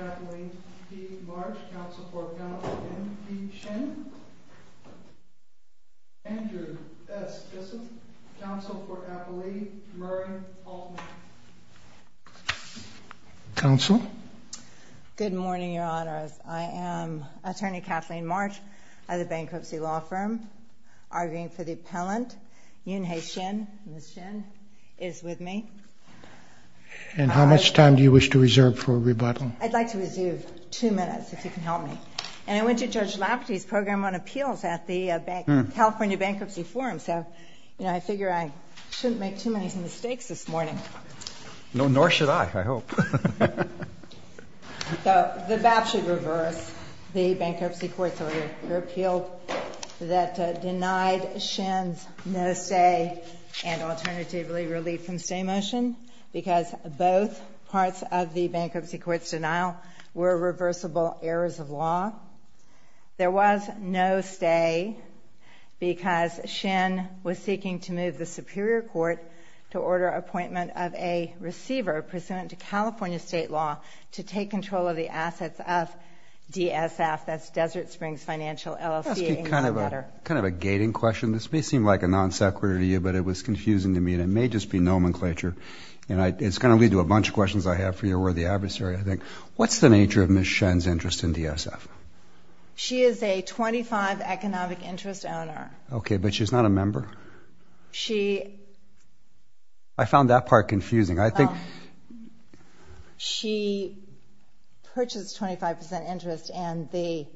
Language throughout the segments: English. Kathleen P. March, counsel for Counselor N. P. Shin. Andrew S. Gissom, counsel for Appellee Murray Altman. Counsel? Good morning, Your Honors. I am Attorney Kathleen March of the And how much time do you wish to reserve for rebuttal? I'd like to reserve two minutes, if you can help me. And I went to Judge Lafferty's program on appeals at the California Bankruptcy Forum, so I figure I shouldn't make too many mistakes this morning. No, nor should I, I hope. The BAP should reverse the bankruptcy court's order for appeal that denied Shin's no-stay and alternatively relieved-from-stay motion, because both parts of the bankruptcy court's denial were reversible errors of law. There was no stay because Shin was seeking to move the Superior Court to order appointment of a receiver pursuant to California state law to take control of the assets of DSF, that's Desert Springs Financial LLC. Can I ask you kind of a gating question? This may seem like a non sequitur to you, but it was confusing to me and it may just be nomenclature. It's going to lead to a bunch of questions I have for your worthy adversary, I think. What's the nature of Ms. Shin's interest in DSF? She is a 25% economic interest owner. Okay, but she's not a member? She... I found that part confusing. She purchased 25% interest and the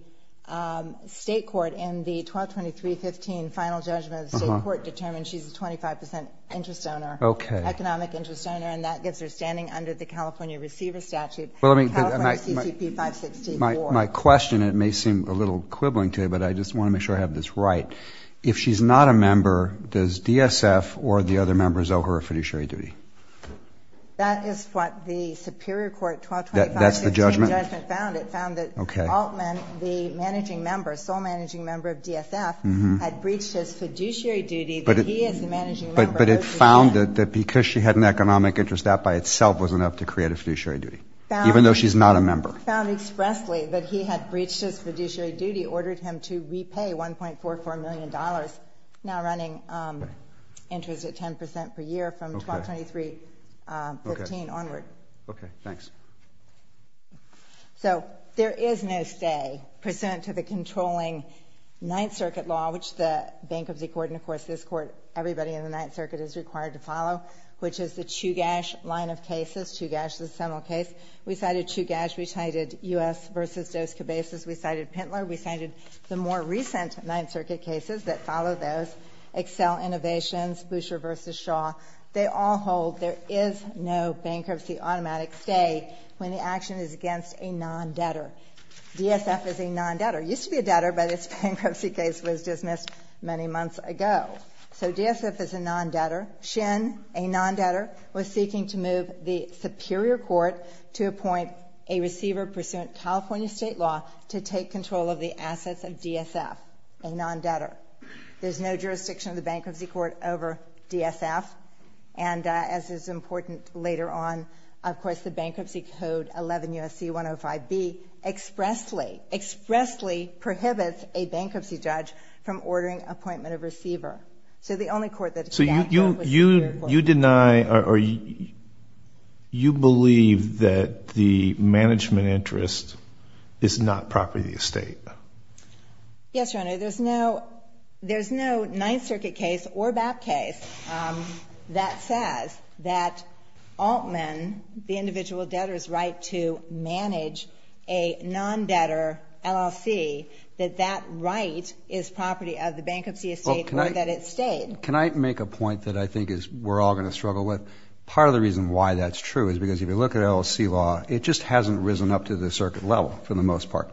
state court in the 12-23-15 final judgment of the state court determined she's a 25% interest owner. Okay. Economic interest owner, and that gives her standing under the California receiver statute, California CCP 564. My question, it may seem a little quibbling to you, but I just want to make sure I have this right. If she's not a member, does DSF or the other members owe her a fiduciary duty? That is what the Superior Court 12-23-15 judgment found. It found that Altman, the managing member, sole managing member of DSF, had breached his fiduciary duty, but he is the managing member. But it found that because she had an economic interest, that by itself was enough to create a fiduciary duty, even though she's not a member. It found expressly that he had breached his fiduciary duty, ordered him to repay $1.44 million, now running interest at 10% per year from 12-23-15 onward. Okay, thanks. So there is no stay pursuant to the controlling Ninth Circuit law, which the Bankruptcy Court and, of course, this Court, everybody in the Ninth Circuit is required to follow, which is the Chugash line of cases, Chugash, the seminal case. We cited Chugash. We cited U.S. v. Dos Cabezas. We cited Pintler. We cited the more recent Ninth Circuit cases that follow those, Accel Innovations, Boucher v. Shaw. They all hold there is no bankruptcy automatic stay when the action is against a non-debtor. DSF is a non-debtor. It used to be a debtor, but its bankruptcy case was dismissed many months ago. So DSF is a non-debtor. SHIN, a non-debtor, was seeking to move the Superior Court to appoint a receiver pursuant to California state law to take control of the assets of DSF, a non-debtor. There's no jurisdiction of the Bankruptcy Court over DSF, and as is important later on, of course, the Bankruptcy Code 11 U.S.C. 105B expressly, expressly prohibits a bankruptcy judge from ordering appointment of receiver. So the only court that is a debtor is the Superior Court. So you deny or you believe that the management interest is not property estate? Yes, Your Honor. There's no Ninth Circuit case or BAP case that says that Altman, the individual debtor's right to manage a non-debtor LLC, that that right is property of the bankruptcy estate or that it stayed. Can I make a point that I think we're all going to struggle with? Part of the reason why that's true is because if you look at LLC law, it just hasn't risen up to the circuit level for the most part.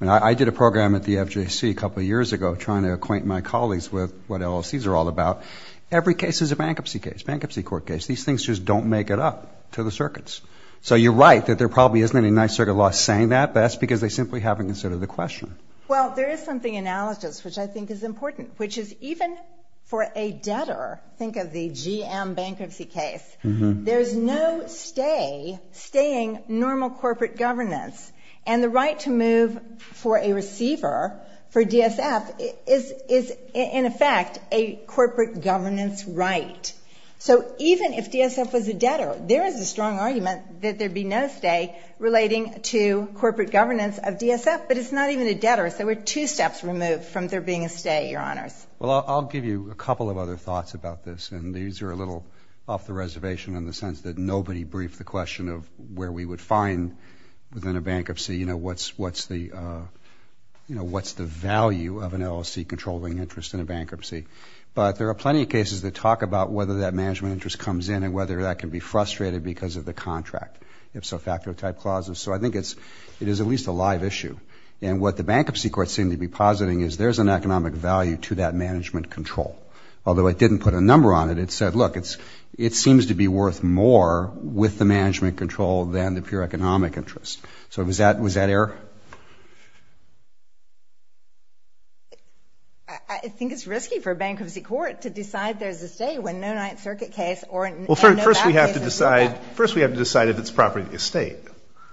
I mean, I did a program at the FJC a couple of years ago trying to acquaint my colleagues with what LLCs are all about. Every case is a bankruptcy case, bankruptcy court case. These things just don't make it up to the circuits. So you're right that there probably isn't any Ninth Circuit law saying that, but that's because they simply haven't considered the question. Well, there is something analogous which I think is important, which is even for a debtor, think of the GM bankruptcy case, there's no stay, staying normal corporate governance, and the right to move for a receiver for DSF is, in effect, a corporate governance right. So even if DSF was a debtor, there is a strong argument that there would be no stay relating to corporate governance of DSF, but it's not even a debtor. So we're two steps removed from there being a stay, Your Honors. Well, I'll give you a couple of other thoughts about this, and these are a little off the reservation in the sense that nobody briefed the question of where we would find within a bankruptcy what's the value of an LLC controlling interest in a bankruptcy. But there are plenty of cases that talk about whether that management interest comes in and whether that can be frustrated because of the contract, ipso facto type clauses. So I think it is at least a live issue. And what the bankruptcy courts seem to be positing is there's an economic value to that management control, although it didn't put a number on it. It said, look, it seems to be worth more with the management control than the pure economic interest. So was that error? I think it's risky for a bankruptcy court to decide there's a stay when no Ninth Circuit case or no back case. Well, first we have to decide if it's property of the estate.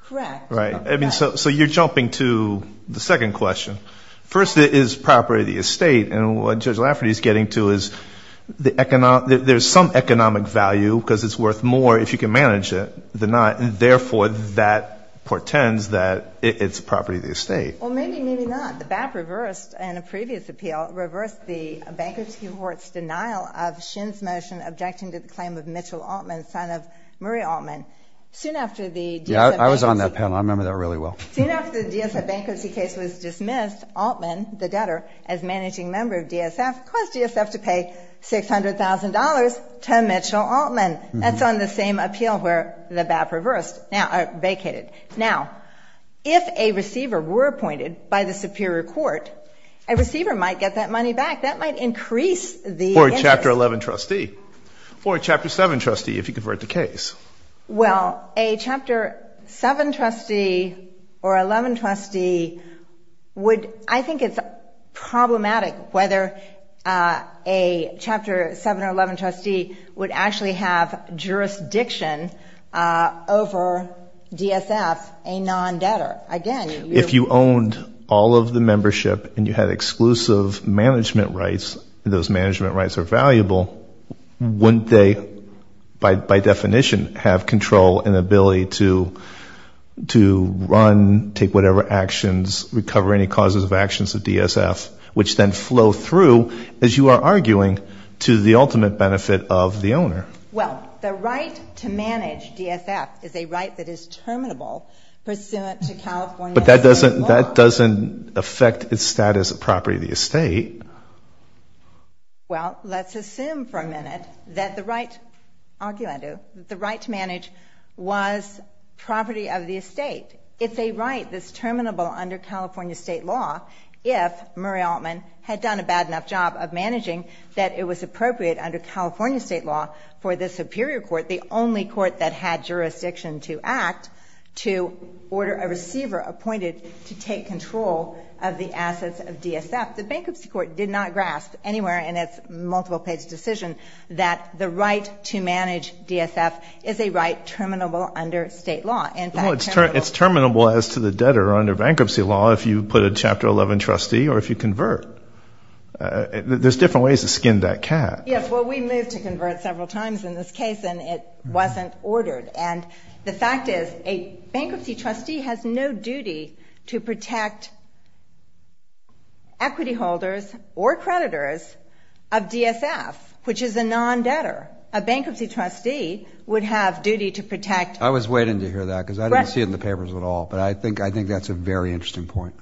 Correct. Right. So you're jumping to the second question. First, it is property of the estate, and what Judge Lafferty is getting to is there's some economic value because it's worth more if you can manage it. Therefore, that portends that it's property of the estate. Well, maybe, maybe not. The BAP reversed in a previous appeal, reversed the bankruptcy court's denial of Shin's motion objecting to the claim of Mitchell Altman, son of Murray Altman. Yeah, I was on that panel. I remember that really well. Soon after the DSF bankruptcy case was dismissed, Altman, the debtor, as managing member of DSF, caused DSF to pay $600,000 to Mitchell Altman. That's on the same appeal where the BAP reversed, vacated. Now, if a receiver were appointed by the superior court, a receiver might get that money back. That might increase the interest. Or a Chapter 11 trustee or a Chapter 7 trustee if you convert the case. Well, a Chapter 7 trustee or 11 trustee would, I think it's problematic whether a Chapter 7 or 11 trustee would actually have jurisdiction over DSF, a non-debtor. If you owned all of the membership and you had exclusive management rights, and those management rights are valuable, wouldn't they, by definition, have control and ability to run, take whatever actions, recover any causes of actions of DSF, which then flow through, as you are arguing, to the ultimate benefit of the owner? Well, the right to manage DSF is a right that is terminable pursuant to California State law. But that doesn't affect the status of property of the estate. Well, let's assume for a minute that the right to manage was property of the estate. If they write this terminable under California State law, if Murray Altman had done a bad enough job of managing that it was appropriate under California State law for the superior court, the only court that had jurisdiction to act, to order a receiver appointed to take control of the assets of DSF, the bankruptcy court did not grasp anywhere in its multiple-page decision that the right to manage DSF is a right terminable under State law. Well, it's terminable as to the debtor under bankruptcy law if you put a Chapter 11 trustee or if you convert. There's different ways to skin that cat. Yes, well, we moved to convert several times in this case, and it wasn't ordered. And the fact is a bankruptcy trustee has no duty to protect equity holders or creditors of DSF, which is a non-debtor. A bankruptcy trustee would have duty to protect. I was waiting to hear that because I didn't see it in the papers at all, but I think that's a very interesting point.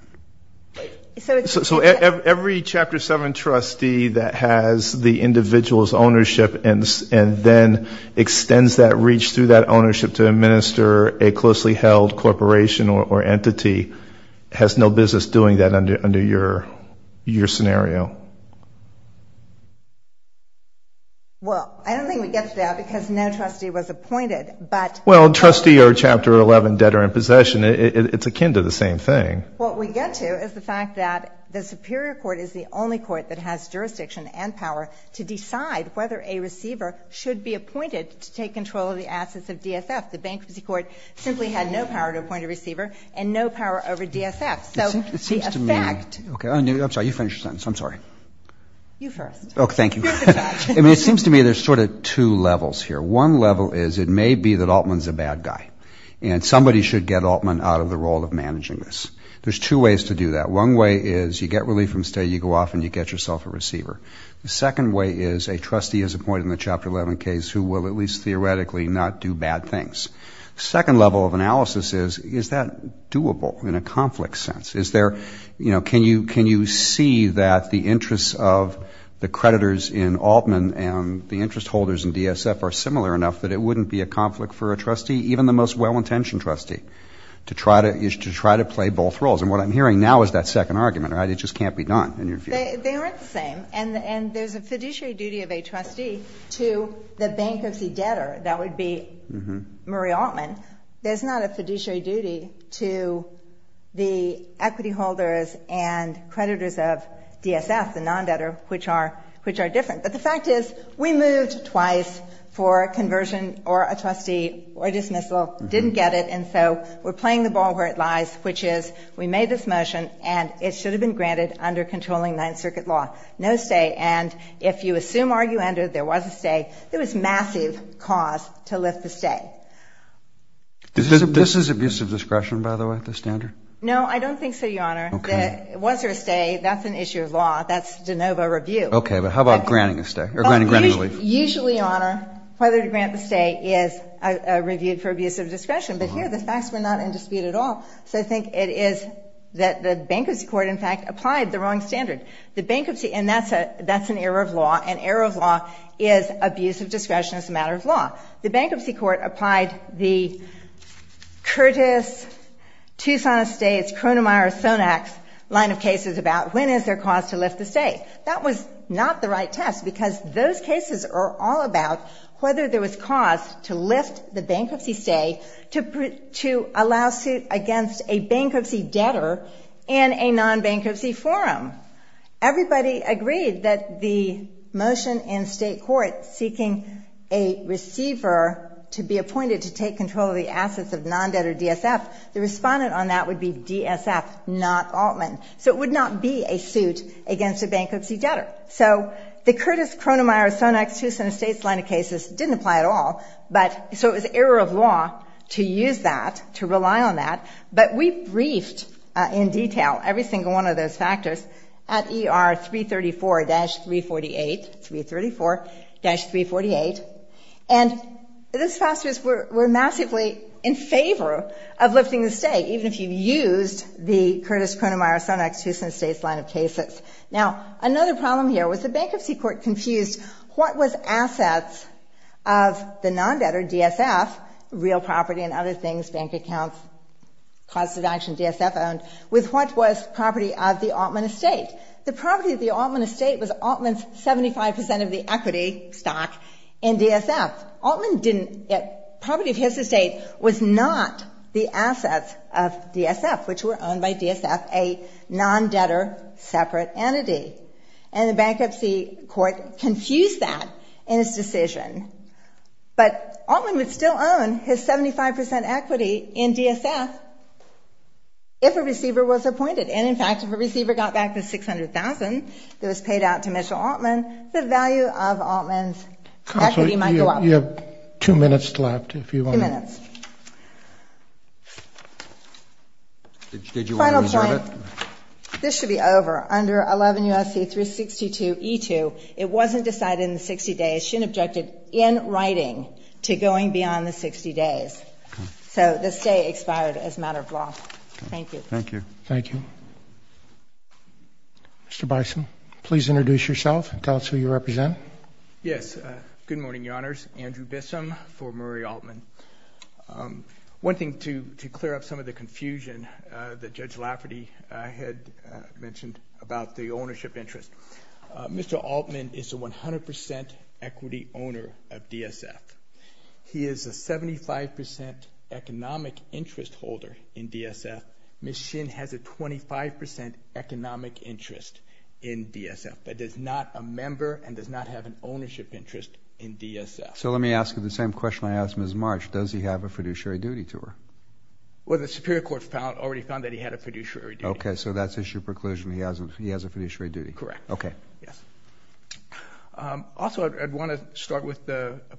So every Chapter 7 trustee that has the individual's ownership and then extends that reach through that ownership to administer a closely held corporation or entity has no business doing that under your scenario? Well, I don't think we get that because no trustee was appointed. Well, trustee or Chapter 11 debtor in possession, it's akin to the same thing. What we get to is the fact that the Superior Court is the only court that has jurisdiction and power to decide whether a receiver should be appointed to take control of the assets of DSF. The Bankruptcy Court simply had no power to appoint a receiver and no power over DSF. So the effect... I'm sorry, you finish your sentence. I'm sorry. You first. Oh, thank you. I mean, it seems to me there's sort of two levels here. One level is it may be that Altman's a bad guy, and somebody should get Altman out of the role of managing this. There's two ways to do that. One way is you get relief from stay, you go off, and you get yourself a receiver. The second way is a trustee is appointed in the Chapter 11 case who will at least theoretically not do bad things. The second level of analysis is, is that doable in a conflict sense? Is there, you know, can you see that the interests of the creditors in Altman and the interest holders in DSF are similar enough that it wouldn't be a conflict for a trustee even the most well-intentioned trustee to try to play both roles? And what I'm hearing now is that second argument, right? It just can't be done in your view. They aren't the same, and there's a fiduciary duty of a trustee to the bankruptcy debtor. That would be Murray Altman. There's not a fiduciary duty to the equity holders and creditors of DSF, the non-debtor, which are different. But the fact is we moved twice for a conversion or a trustee or dismissal, didn't get it, and so we're playing the ball where it lies, which is we made this motion and it should have been granted under controlling Ninth Circuit law. No stay. And if you assume argumentative there was a stay, there was massive cause to lift the stay. This is abuse of discretion, by the way, the standard? No, I don't think so, Your Honor. Okay. Was there a stay? That's an issue of law. That's de novo review. Okay, but how about granting a stay or granting a leave? Usually, Your Honor, whether to grant the stay is reviewed for abuse of discretion, but here the facts were not in dispute at all, so I think it is that the bankruptcy court, in fact, applied the wrong standard. And that's an error of law, and error of law is abuse of discretion as a matter of law. The bankruptcy court applied the Curtis-Tucson Estates-Cronemeyer-Sonnax line of cases about when is there cause to lift the stay. That was not the right test because those cases are all about whether there was cause to lift the bankruptcy stay to allow suit against a bankruptcy debtor in a non-bankruptcy forum. Everybody agreed that the motion in state court seeking a receiver to be appointed to take control of the assets of non-debtor DSF, the respondent on that would be DSF, not Altman. So it would not be a suit against a bankruptcy debtor. So the Curtis-Cronemeyer-Sonnax-Tucson Estates line of cases didn't apply at all, but so it was error of law to use that, to rely on that. But we briefed in detail every single one of those factors at ER 334-348, 334-348, and the spousers were massively in favor of lifting the stay, even if you used the Curtis-Cronemeyer-Sonnax-Tucson Estates line of cases. Now, another problem here was the bankruptcy court confused what was assets of the non-debtor DSF, real property and other things, bank accounts, cause of action DSF owned, with what was property of the Altman estate. The property of the Altman estate was Altman's 75% of the equity stock in DSF. Altman didn't, property of his estate was not the assets of DSF, which were owned by DSF, a non-debtor separate entity. And the bankruptcy court confused that in its decision. But Altman would still own his 75% equity in DSF if a receiver was appointed. And, in fact, if a receiver got back the $600,000 that was paid out to Mitchell Altman, the value of Altman's equity might go up. Counsel, you have two minutes left if you want to. Two minutes. Did you want to reserve it? Final point. This should be over. Under 11 U.S.C. 362E2, it wasn't decided in the 60 days. It shouldn't have been objected in writing to going beyond the 60 days. Okay. So the stay expired as a matter of law. Thank you. Thank you. Thank you. Mr. Bison, please introduce yourself and tell us who you represent. Yes. Good morning, Your Honors. Andrew Bissum for Murray Altman. One thing to clear up some of the confusion that Judge Lafferty had mentioned about the ownership interest. Mr. Altman is a 100% equity owner of DSF. He is a 75% economic interest holder in DSF. Ms. Shin has a 25% economic interest in DSF, but does not a member and does not have an ownership interest in DSF. So let me ask you the same question I asked Ms. March. Does he have a fiduciary duty to her? Well, the Superior Court already found that he had a fiduciary duty. Okay. So that's issue preclusion. He has a fiduciary duty. Correct. Okay. Yes. Also, I'd want to start with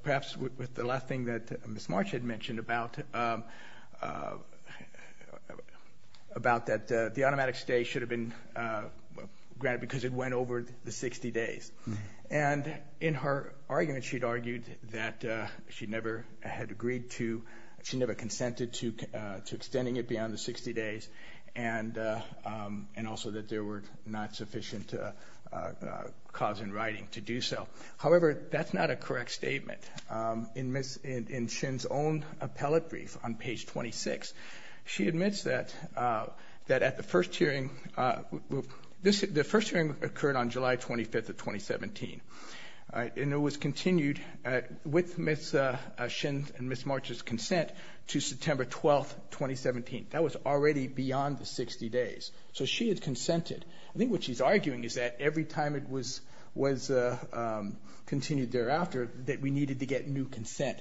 perhaps with the last thing that Ms. March had mentioned about that the automatic stay should have been granted because it went over the 60 days. And in her argument, she'd argued that she never had agreed to, she never consented to extending it beyond the 60 days, and also that there were not sufficient cause in writing to do so. However, that's not a correct statement. In Ms. Shin's own appellate brief on page 26, she admits that at the first hearing, the first hearing occurred on July 25th of 2017, and it was continued with Ms. Shin and Ms. March's consent to September 12th, 2017. That was already beyond the 60 days. So she had consented. I think what she's arguing is that every time it was continued thereafter, that we needed to get new consent.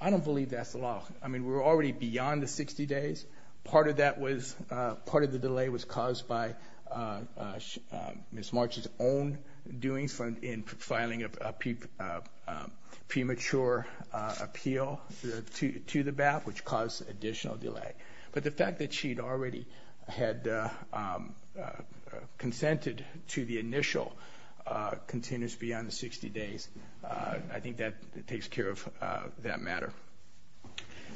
I don't believe that's the law. I mean, we're already beyond the 60 days. Part of that was, part of the delay was caused by Ms. March's own doings in filing a premature appeal to the BAP, which caused additional delay. But the fact that she'd already had consented to the initial continues beyond the 60 days. I think that takes care of that matter.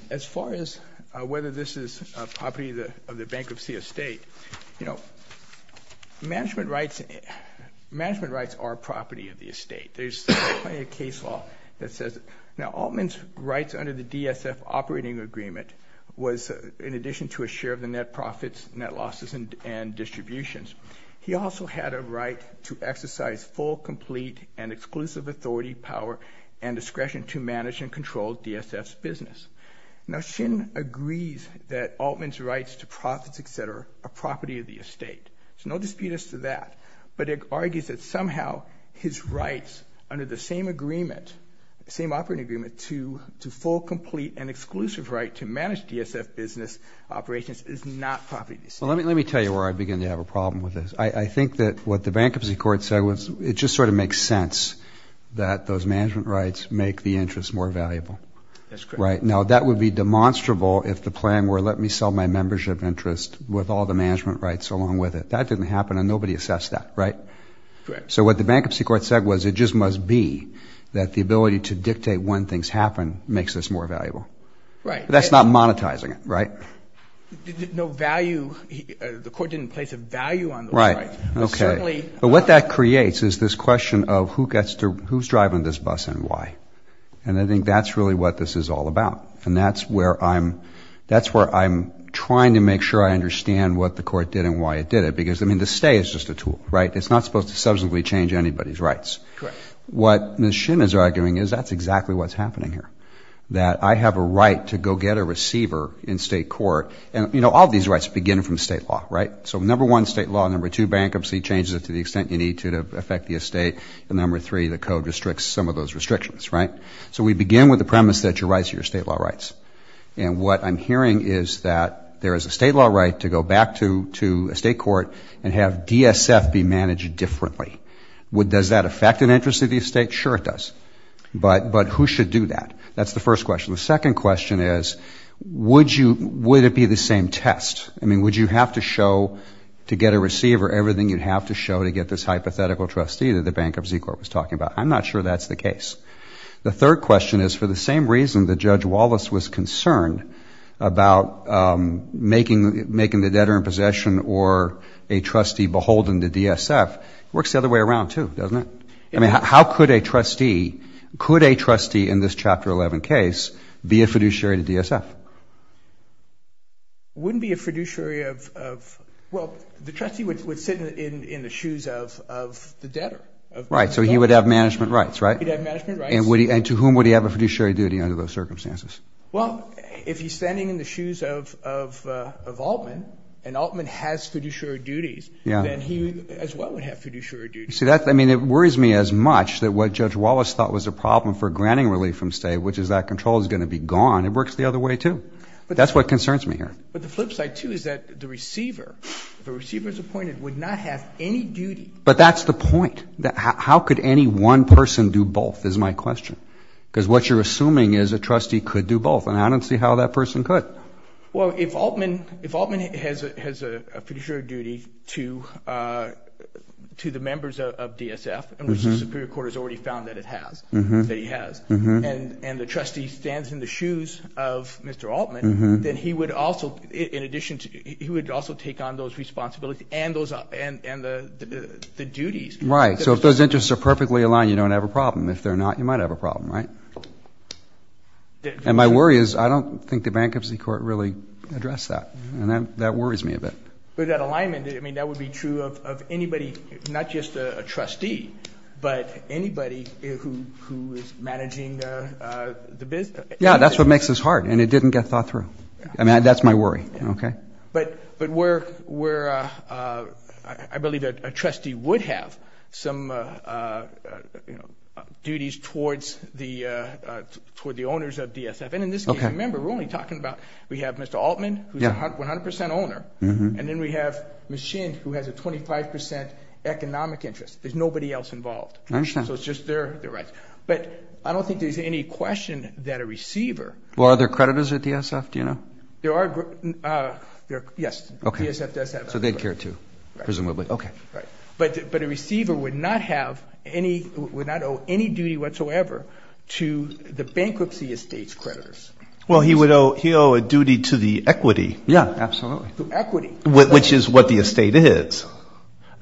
As far as whether this is property of the bankruptcy estate, you know, management rights are property of the estate. There's a case law that says, now, Altman's rights under the DSF operating agreement was, in addition to a share of the net profits, net losses, and distributions, he also had a right to exercise full, complete, and exclusive authority, power, and discretion to manage and control DSF's business. Now, Shin agrees that Altman's rights to profits, et cetera, are property of the estate. There's no dispute as to that. But he argues that somehow his rights under the same agreement, same operating agreement, to full, complete, and exclusive right to manage DSF business operations is not property of the estate. Well, let me tell you where I begin to have a problem with this. I think that what the bankruptcy court said was it just sort of makes sense that those management rights make the interest more valuable. That's correct. Now, that would be demonstrable if the plan were, let me sell my membership interest with all the management rights along with it. That didn't happen, and nobody assessed that, right? Correct. So what the bankruptcy court said was it just must be that the ability to dictate when things happen makes this more valuable. Right. But that's not monetizing it, right? No value. The court didn't place a value on those rights. Right. Okay. But what that creates is this question of who's driving this bus and why, and I think that's really what this is all about, and that's where I'm trying to make sure I understand what the court did and why it did it because, I mean, the stay is just a tool, right? It's not supposed to substantially change anybody's rights. Correct. What Ms. Shinn is arguing is that's exactly what's happening here, that I have a right to go get a receiver in state court, and, you know, all these rights begin from state law, right? So number one, state law. Number two, bankruptcy changes it to the extent you need to to affect the estate. And number three, the code restricts some of those restrictions, right? So we begin with the premise that your rights are your state law rights, and what I'm hearing is that there is a state law right to go back to a state court and have DSF be managed differently. Does that affect an interest of the estate? Sure it does. But who should do that? That's the first question. The second question is would it be the same test? I mean, would you have to show to get a receiver everything you'd have to show to get this hypothetical trustee that the bankruptcy court was talking about? I'm not sure that's the case. The third question is for the same reason that Judge Wallace was concerned about making the debtor in possession or a trustee beholden to DSF. It works the other way around, too, doesn't it? I mean, how could a trustee, could a trustee in this Chapter 11 case be a fiduciary to DSF? Wouldn't be a fiduciary of, well, the trustee would sit in the shoes of the debtor. Right, so he would have management rights, right? He'd have management rights. And to whom would he have a fiduciary duty under those circumstances? Well, if he's standing in the shoes of Altman, and Altman has fiduciary duties, then he as well would have fiduciary duties. I mean, it worries me as much that what Judge Wallace thought was a problem for granting relief from state, which is that control is going to be gone, it works the other way, too. That's what concerns me here. But the flip side, too, is that the receiver, if a receiver is appointed, would not have any duty. But that's the point. How could any one person do both is my question. Because what you're assuming is a trustee could do both, and I don't see how that person could. Well, if Altman has a fiduciary duty to the members of DSF, which the Superior Court has already found that it has, that he has, and the trustee stands in the shoes of Mr. Altman, then he would also take on those responsibilities and the duties. Right, so if those interests are perfectly aligned, you don't have a problem. If they're not, you might have a problem, right? And my worry is I don't think the Bankruptcy Court really addressed that, and that worries me a bit. But that alignment, I mean, that would be true of anybody, not just a trustee, but anybody who is managing the business. Yeah, that's what makes this hard, and it didn't get thought through. I mean, that's my worry. But I believe that a trustee would have some duties towards the owners of DSF. And in this case, remember, we're only talking about, we have Mr. Altman, who's a 100% owner, and then we have Ms. Shin, who has a 25% economic interest. There's nobody else involved. I understand. So it's just their rights. But I don't think there's any question that a receiver— Well, are there creditors at DSF? Do you know? There are, yes. Okay. DSF does have creditors. So they'd care, too, presumably. Right. Okay. Right. But a receiver would not have any, would not owe any duty whatsoever to the bankruptcy estate's creditors. Well, he would owe a duty to the equity. Yeah, absolutely. To equity. Which is what the estate is.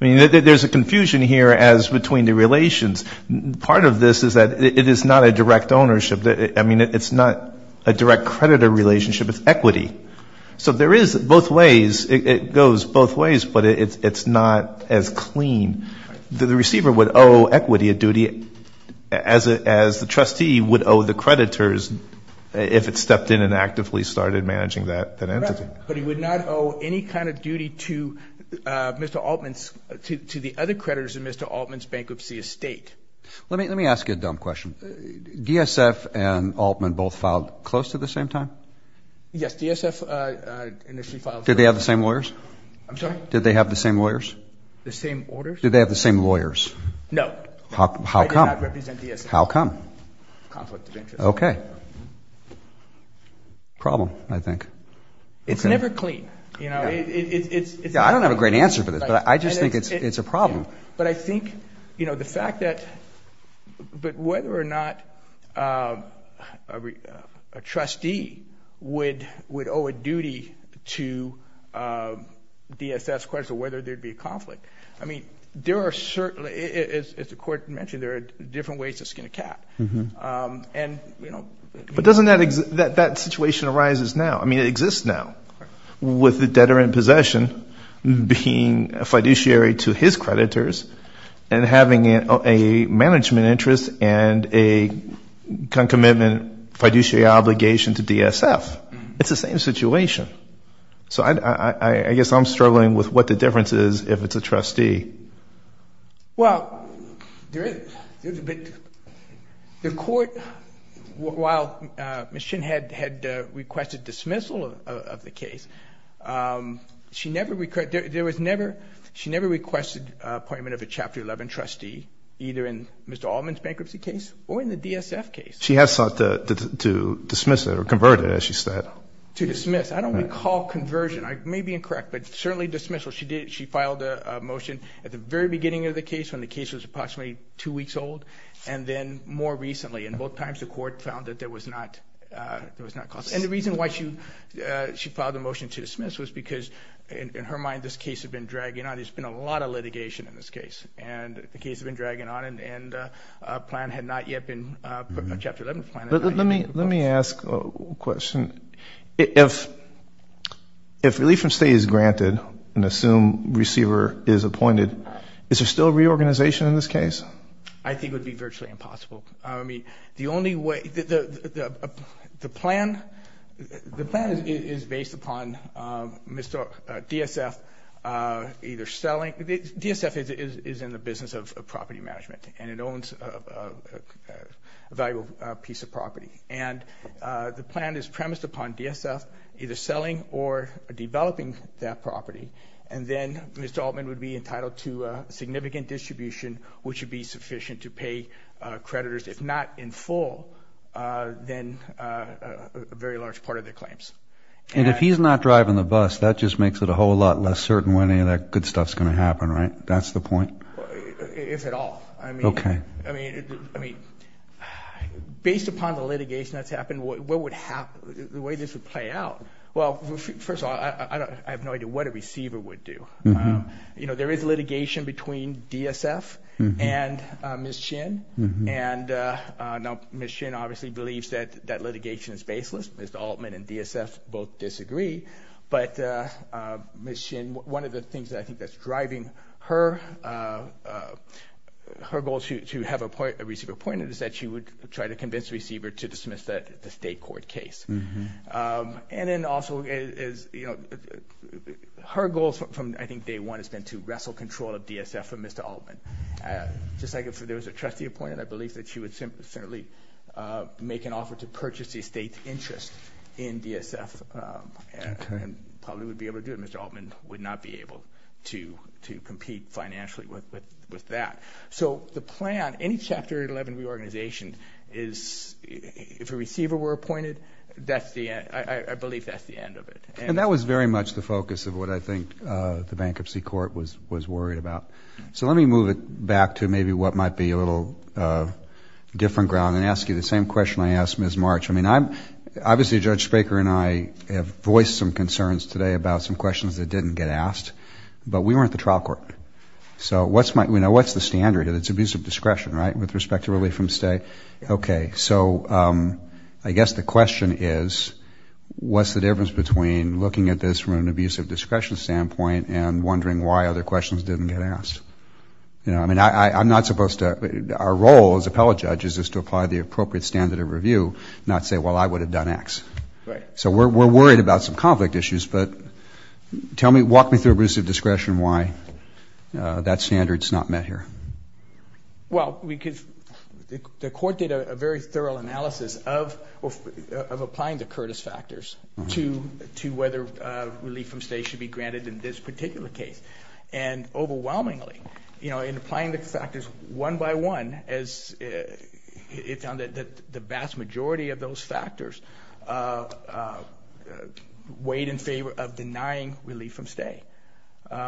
I mean, there's a confusion here as between the relations. Part of this is that it is not a direct ownership. I mean, it's not a direct creditor relationship. It's equity. So there is both ways. It goes both ways, but it's not as clean. The receiver would owe equity a duty as the trustee would owe the creditors if it stepped in and actively started managing that entity. Right. But he would not owe any kind of duty to Mr. Altman's, to the other creditors in Mr. Altman's bankruptcy estate. Let me ask you a dumb question. DSF and Altman both filed close to the same time? Yes. DSF initially filed. Did they have the same lawyers? I'm sorry? Did they have the same lawyers? The same orders? Did they have the same lawyers? No. How come? I did not represent DSF. How come? Conflict of interest. Okay. Problem, I think. It's never clean. You know, it's... I don't have a great answer for this, but I just think it's a problem. But I think, you know, the fact that... But whether or not a trustee would owe a duty to DSF's creditors or whether there would be a conflict. I mean, there are certainly... As the Court mentioned, there are different ways to skin a cat. But doesn't that situation arise now? I mean, it exists now with the debtor in possession being a fiduciary to his creditors and having a management interest and a commitment fiduciary obligation to DSF. It's the same situation. So I guess I'm struggling with what the difference is if it's a trustee. Well, there is... The Court, while Ms. Shin had requested dismissal of the case, she never requested an appointment of a Chapter 11 trustee, either in Mr. Altman's bankruptcy case or in the DSF case. She has sought to dismiss it or convert it, as she said. To dismiss. I don't recall conversion. I may be incorrect, but certainly dismissal. But she filed a motion at the very beginning of the case, when the case was approximately two weeks old, and then more recently. And both times the Court found that there was not... And the reason why she filed a motion to dismiss was because, in her mind, this case had been dragging on. There's been a lot of litigation in this case, and the case had been dragging on, and a plan had not yet been... a Chapter 11 plan. Let me ask a question. If relief from stay is granted, and assume receiver is appointed, is there still reorganization in this case? I think it would be virtually impossible. I mean, the only way... The plan is based upon Mr. DSF either selling... DSF is in the business of property management, and it owns a valuable piece of property. And the plan is premised upon DSF either selling or developing that property. And then Mr. Altman would be entitled to significant distribution, which would be sufficient to pay creditors, if not in full, then a very large part of their claims. And if he's not driving the bus, that just makes it a whole lot less certain when any of that good stuff is going to happen, right? That's the point? If at all. Okay. I mean, based upon the litigation that's happened, what would happen? The way this would play out... Well, first of all, I have no idea what a receiver would do. You know, there is litigation between DSF and Ms. Shin. And now Ms. Shin obviously believes that that litigation is baseless. Ms. Altman and DSF both disagree. But Ms. Shin, one of the things that I think that's driving her, her goal to have a receiver appointed is that she would try to convince the receiver to dismiss the state court case. And then also, her goal from I think day one has been to wrestle control of DSF from Mr. Altman. Just like if there was a trustee appointed, I believe that she would certainly make an offer to purchase the estate's interest in DSF and probably would be able to do it. Ms. Altman would not be able to compete financially with that. So the plan, any Chapter 11 reorganization is if a receiver were appointed, I believe that's the end of it. And that was very much the focus of what I think the bankruptcy court was worried about. So let me move it back to maybe what might be a little different ground and ask you the same question I asked Ms. March. I mean, obviously, Judge Spraker and I have voiced some concerns today about some questions that didn't get asked, but we weren't the trial court. So what's the standard? It's abusive discretion, right, with respect to relief from stay? Okay, so I guess the question is what's the difference between looking at this from an abusive discretion standpoint and wondering why other questions didn't get asked? I mean, I'm not supposed to – our role as appellate judges is to apply the appropriate standard of review, not say, well, I would have done X. Right. So we're worried about some conflict issues, but walk me through abusive discretion, why that standard's not met here. Well, the court did a very thorough analysis of applying the Curtis factors to whether relief from stay should be granted in this particular case. And overwhelmingly, in applying the factors one by one, it found that the vast majority of those factors weighed in favor of denying relief from stay. There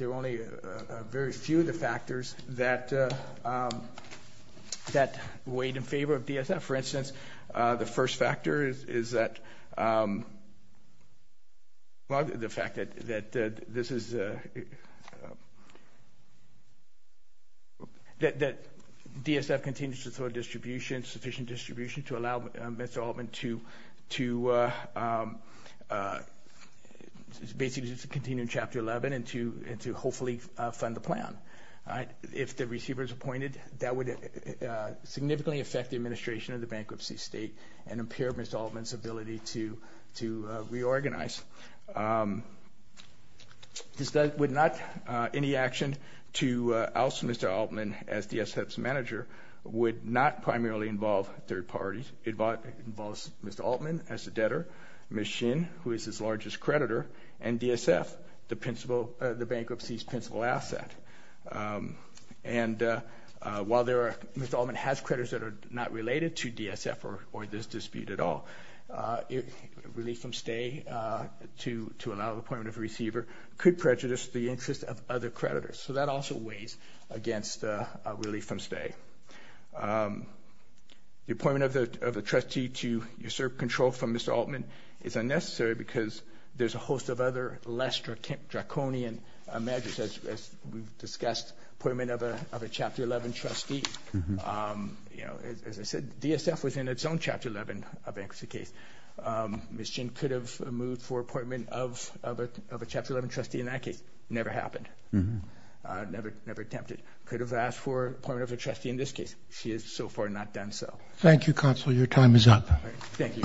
are only a very few of the factors that weighed in favor of DSM. For instance, the first factor is that – well, the fact that this is – that DSM continues to throw distribution, sufficient distribution, to allow Mr. Altman to basically continue in Chapter 11 and to hopefully fund the plan. If the receiver is appointed, that would significantly affect the administration of the bankruptcy state and impair Mr. Altman's ability to reorganize. This would not – any action to oust Mr. Altman as DSM's manager would not primarily involve third parties. It involves Mr. Altman as the debtor, Ms. Shin, who is his largest creditor, and DSF, the principal – the bankruptcy's principal asset. And while there are – Mr. Altman has creditors that are not related to DSF or this dispute at all, relief from stay to allow the appointment of a receiver could prejudice the interest of other creditors. So that also weighs against relief from stay. The appointment of a trustee to usurp control from Mr. Altman is unnecessary because there's a host of other less draconian measures, as we've discussed, appointment of a Chapter 11 trustee. You know, as I said, DSF was in its own Chapter 11 bankruptcy case. Ms. Shin could have moved for appointment of a Chapter 11 trustee in that case. Never happened. Never attempted. Could have asked for appointment of a trustee in this case. She has so far not done so. Thank you, Counselor. Your time is up. Thank you.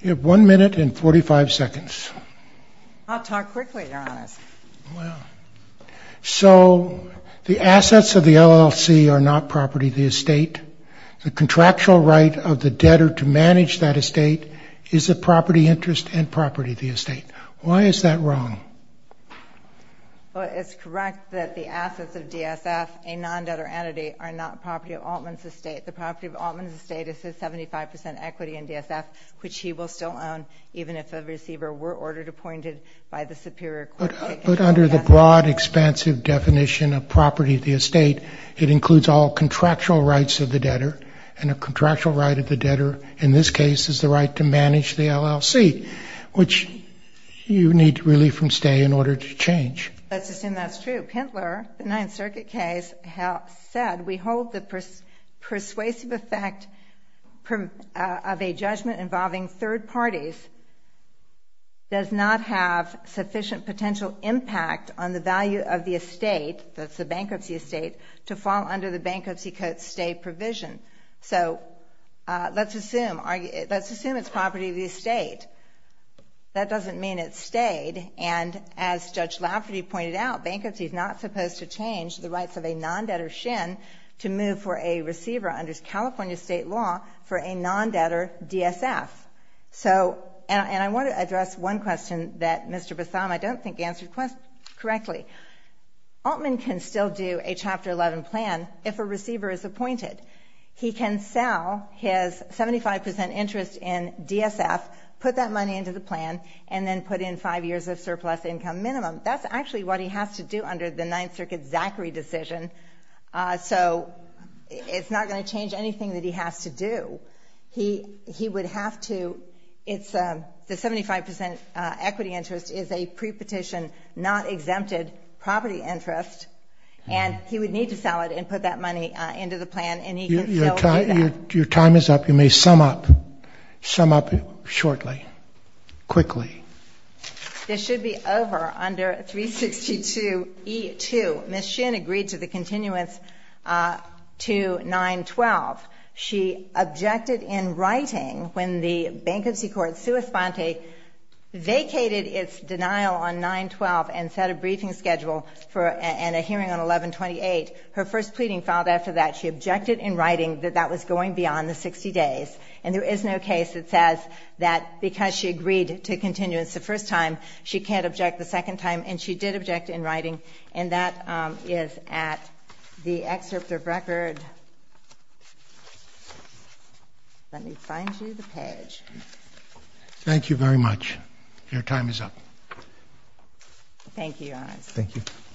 You have one minute and 45 seconds. I'll talk quickly, Your Honor. So the assets of the LLC are not property of the estate. The contractual right of the debtor to manage that estate is the property interest and property of the estate. Why is that wrong? Well, it's correct that the assets of DSF, a non-debtor entity, are not property of Altman's estate. The property of Altman's estate is his 75% equity in DSF, which he will still own even if the receiver were ordered appointed by the superior court. But under the broad, expansive definition of property of the estate, it includes all contractual rights of the debtor, and a contractual right of the debtor in this case is the right to manage the LLC, which you need relief from stay in order to change. Let's assume that's true. Pintler, the Ninth Circuit case, said, we hold the persuasive effect of a judgment involving third parties does not have sufficient potential impact on the value of the estate, that's the bankruptcy estate, to fall under the Bankruptcy Code stay provision. So let's assume it's property of the estate. That doesn't mean it stayed. And as Judge Lafferty pointed out, bankruptcy is not supposed to change the rights of a non-debtor SHIN to move for a receiver under California state law for a non-debtor DSF. And I want to address one question that Mr. Bethama I don't think answered correctly. Altman can still do a Chapter 11 plan if a receiver is appointed. He can sell his 75% interest in DSF, put that money into the plan, and then put in five years of surplus income minimum. That's actually what he has to do under the Ninth Circuit Zachary decision. So it's not going to change anything that he has to do. He would have to, the 75% equity interest is a pre-petition not exempted property interest, and he would need to sell it and put that money into the plan and he can still do that. Your time is up. You may sum up shortly, quickly. This should be over under 362E2. Ms. SHIN agreed to the continuance to 912. She objected in writing when the bankruptcy court, vacated its denial on 912 and set a briefing schedule and a hearing on 1128. Her first pleading filed after that. She objected in writing that that was going beyond the 60 days. And there is no case that says that because she agreed to continuance the first time, she can't object the second time, and she did object in writing, and that is at the excerpt of record. And let me find you the page. Thank you very much. Your time is up. Thank you, Your Honor. Thank you.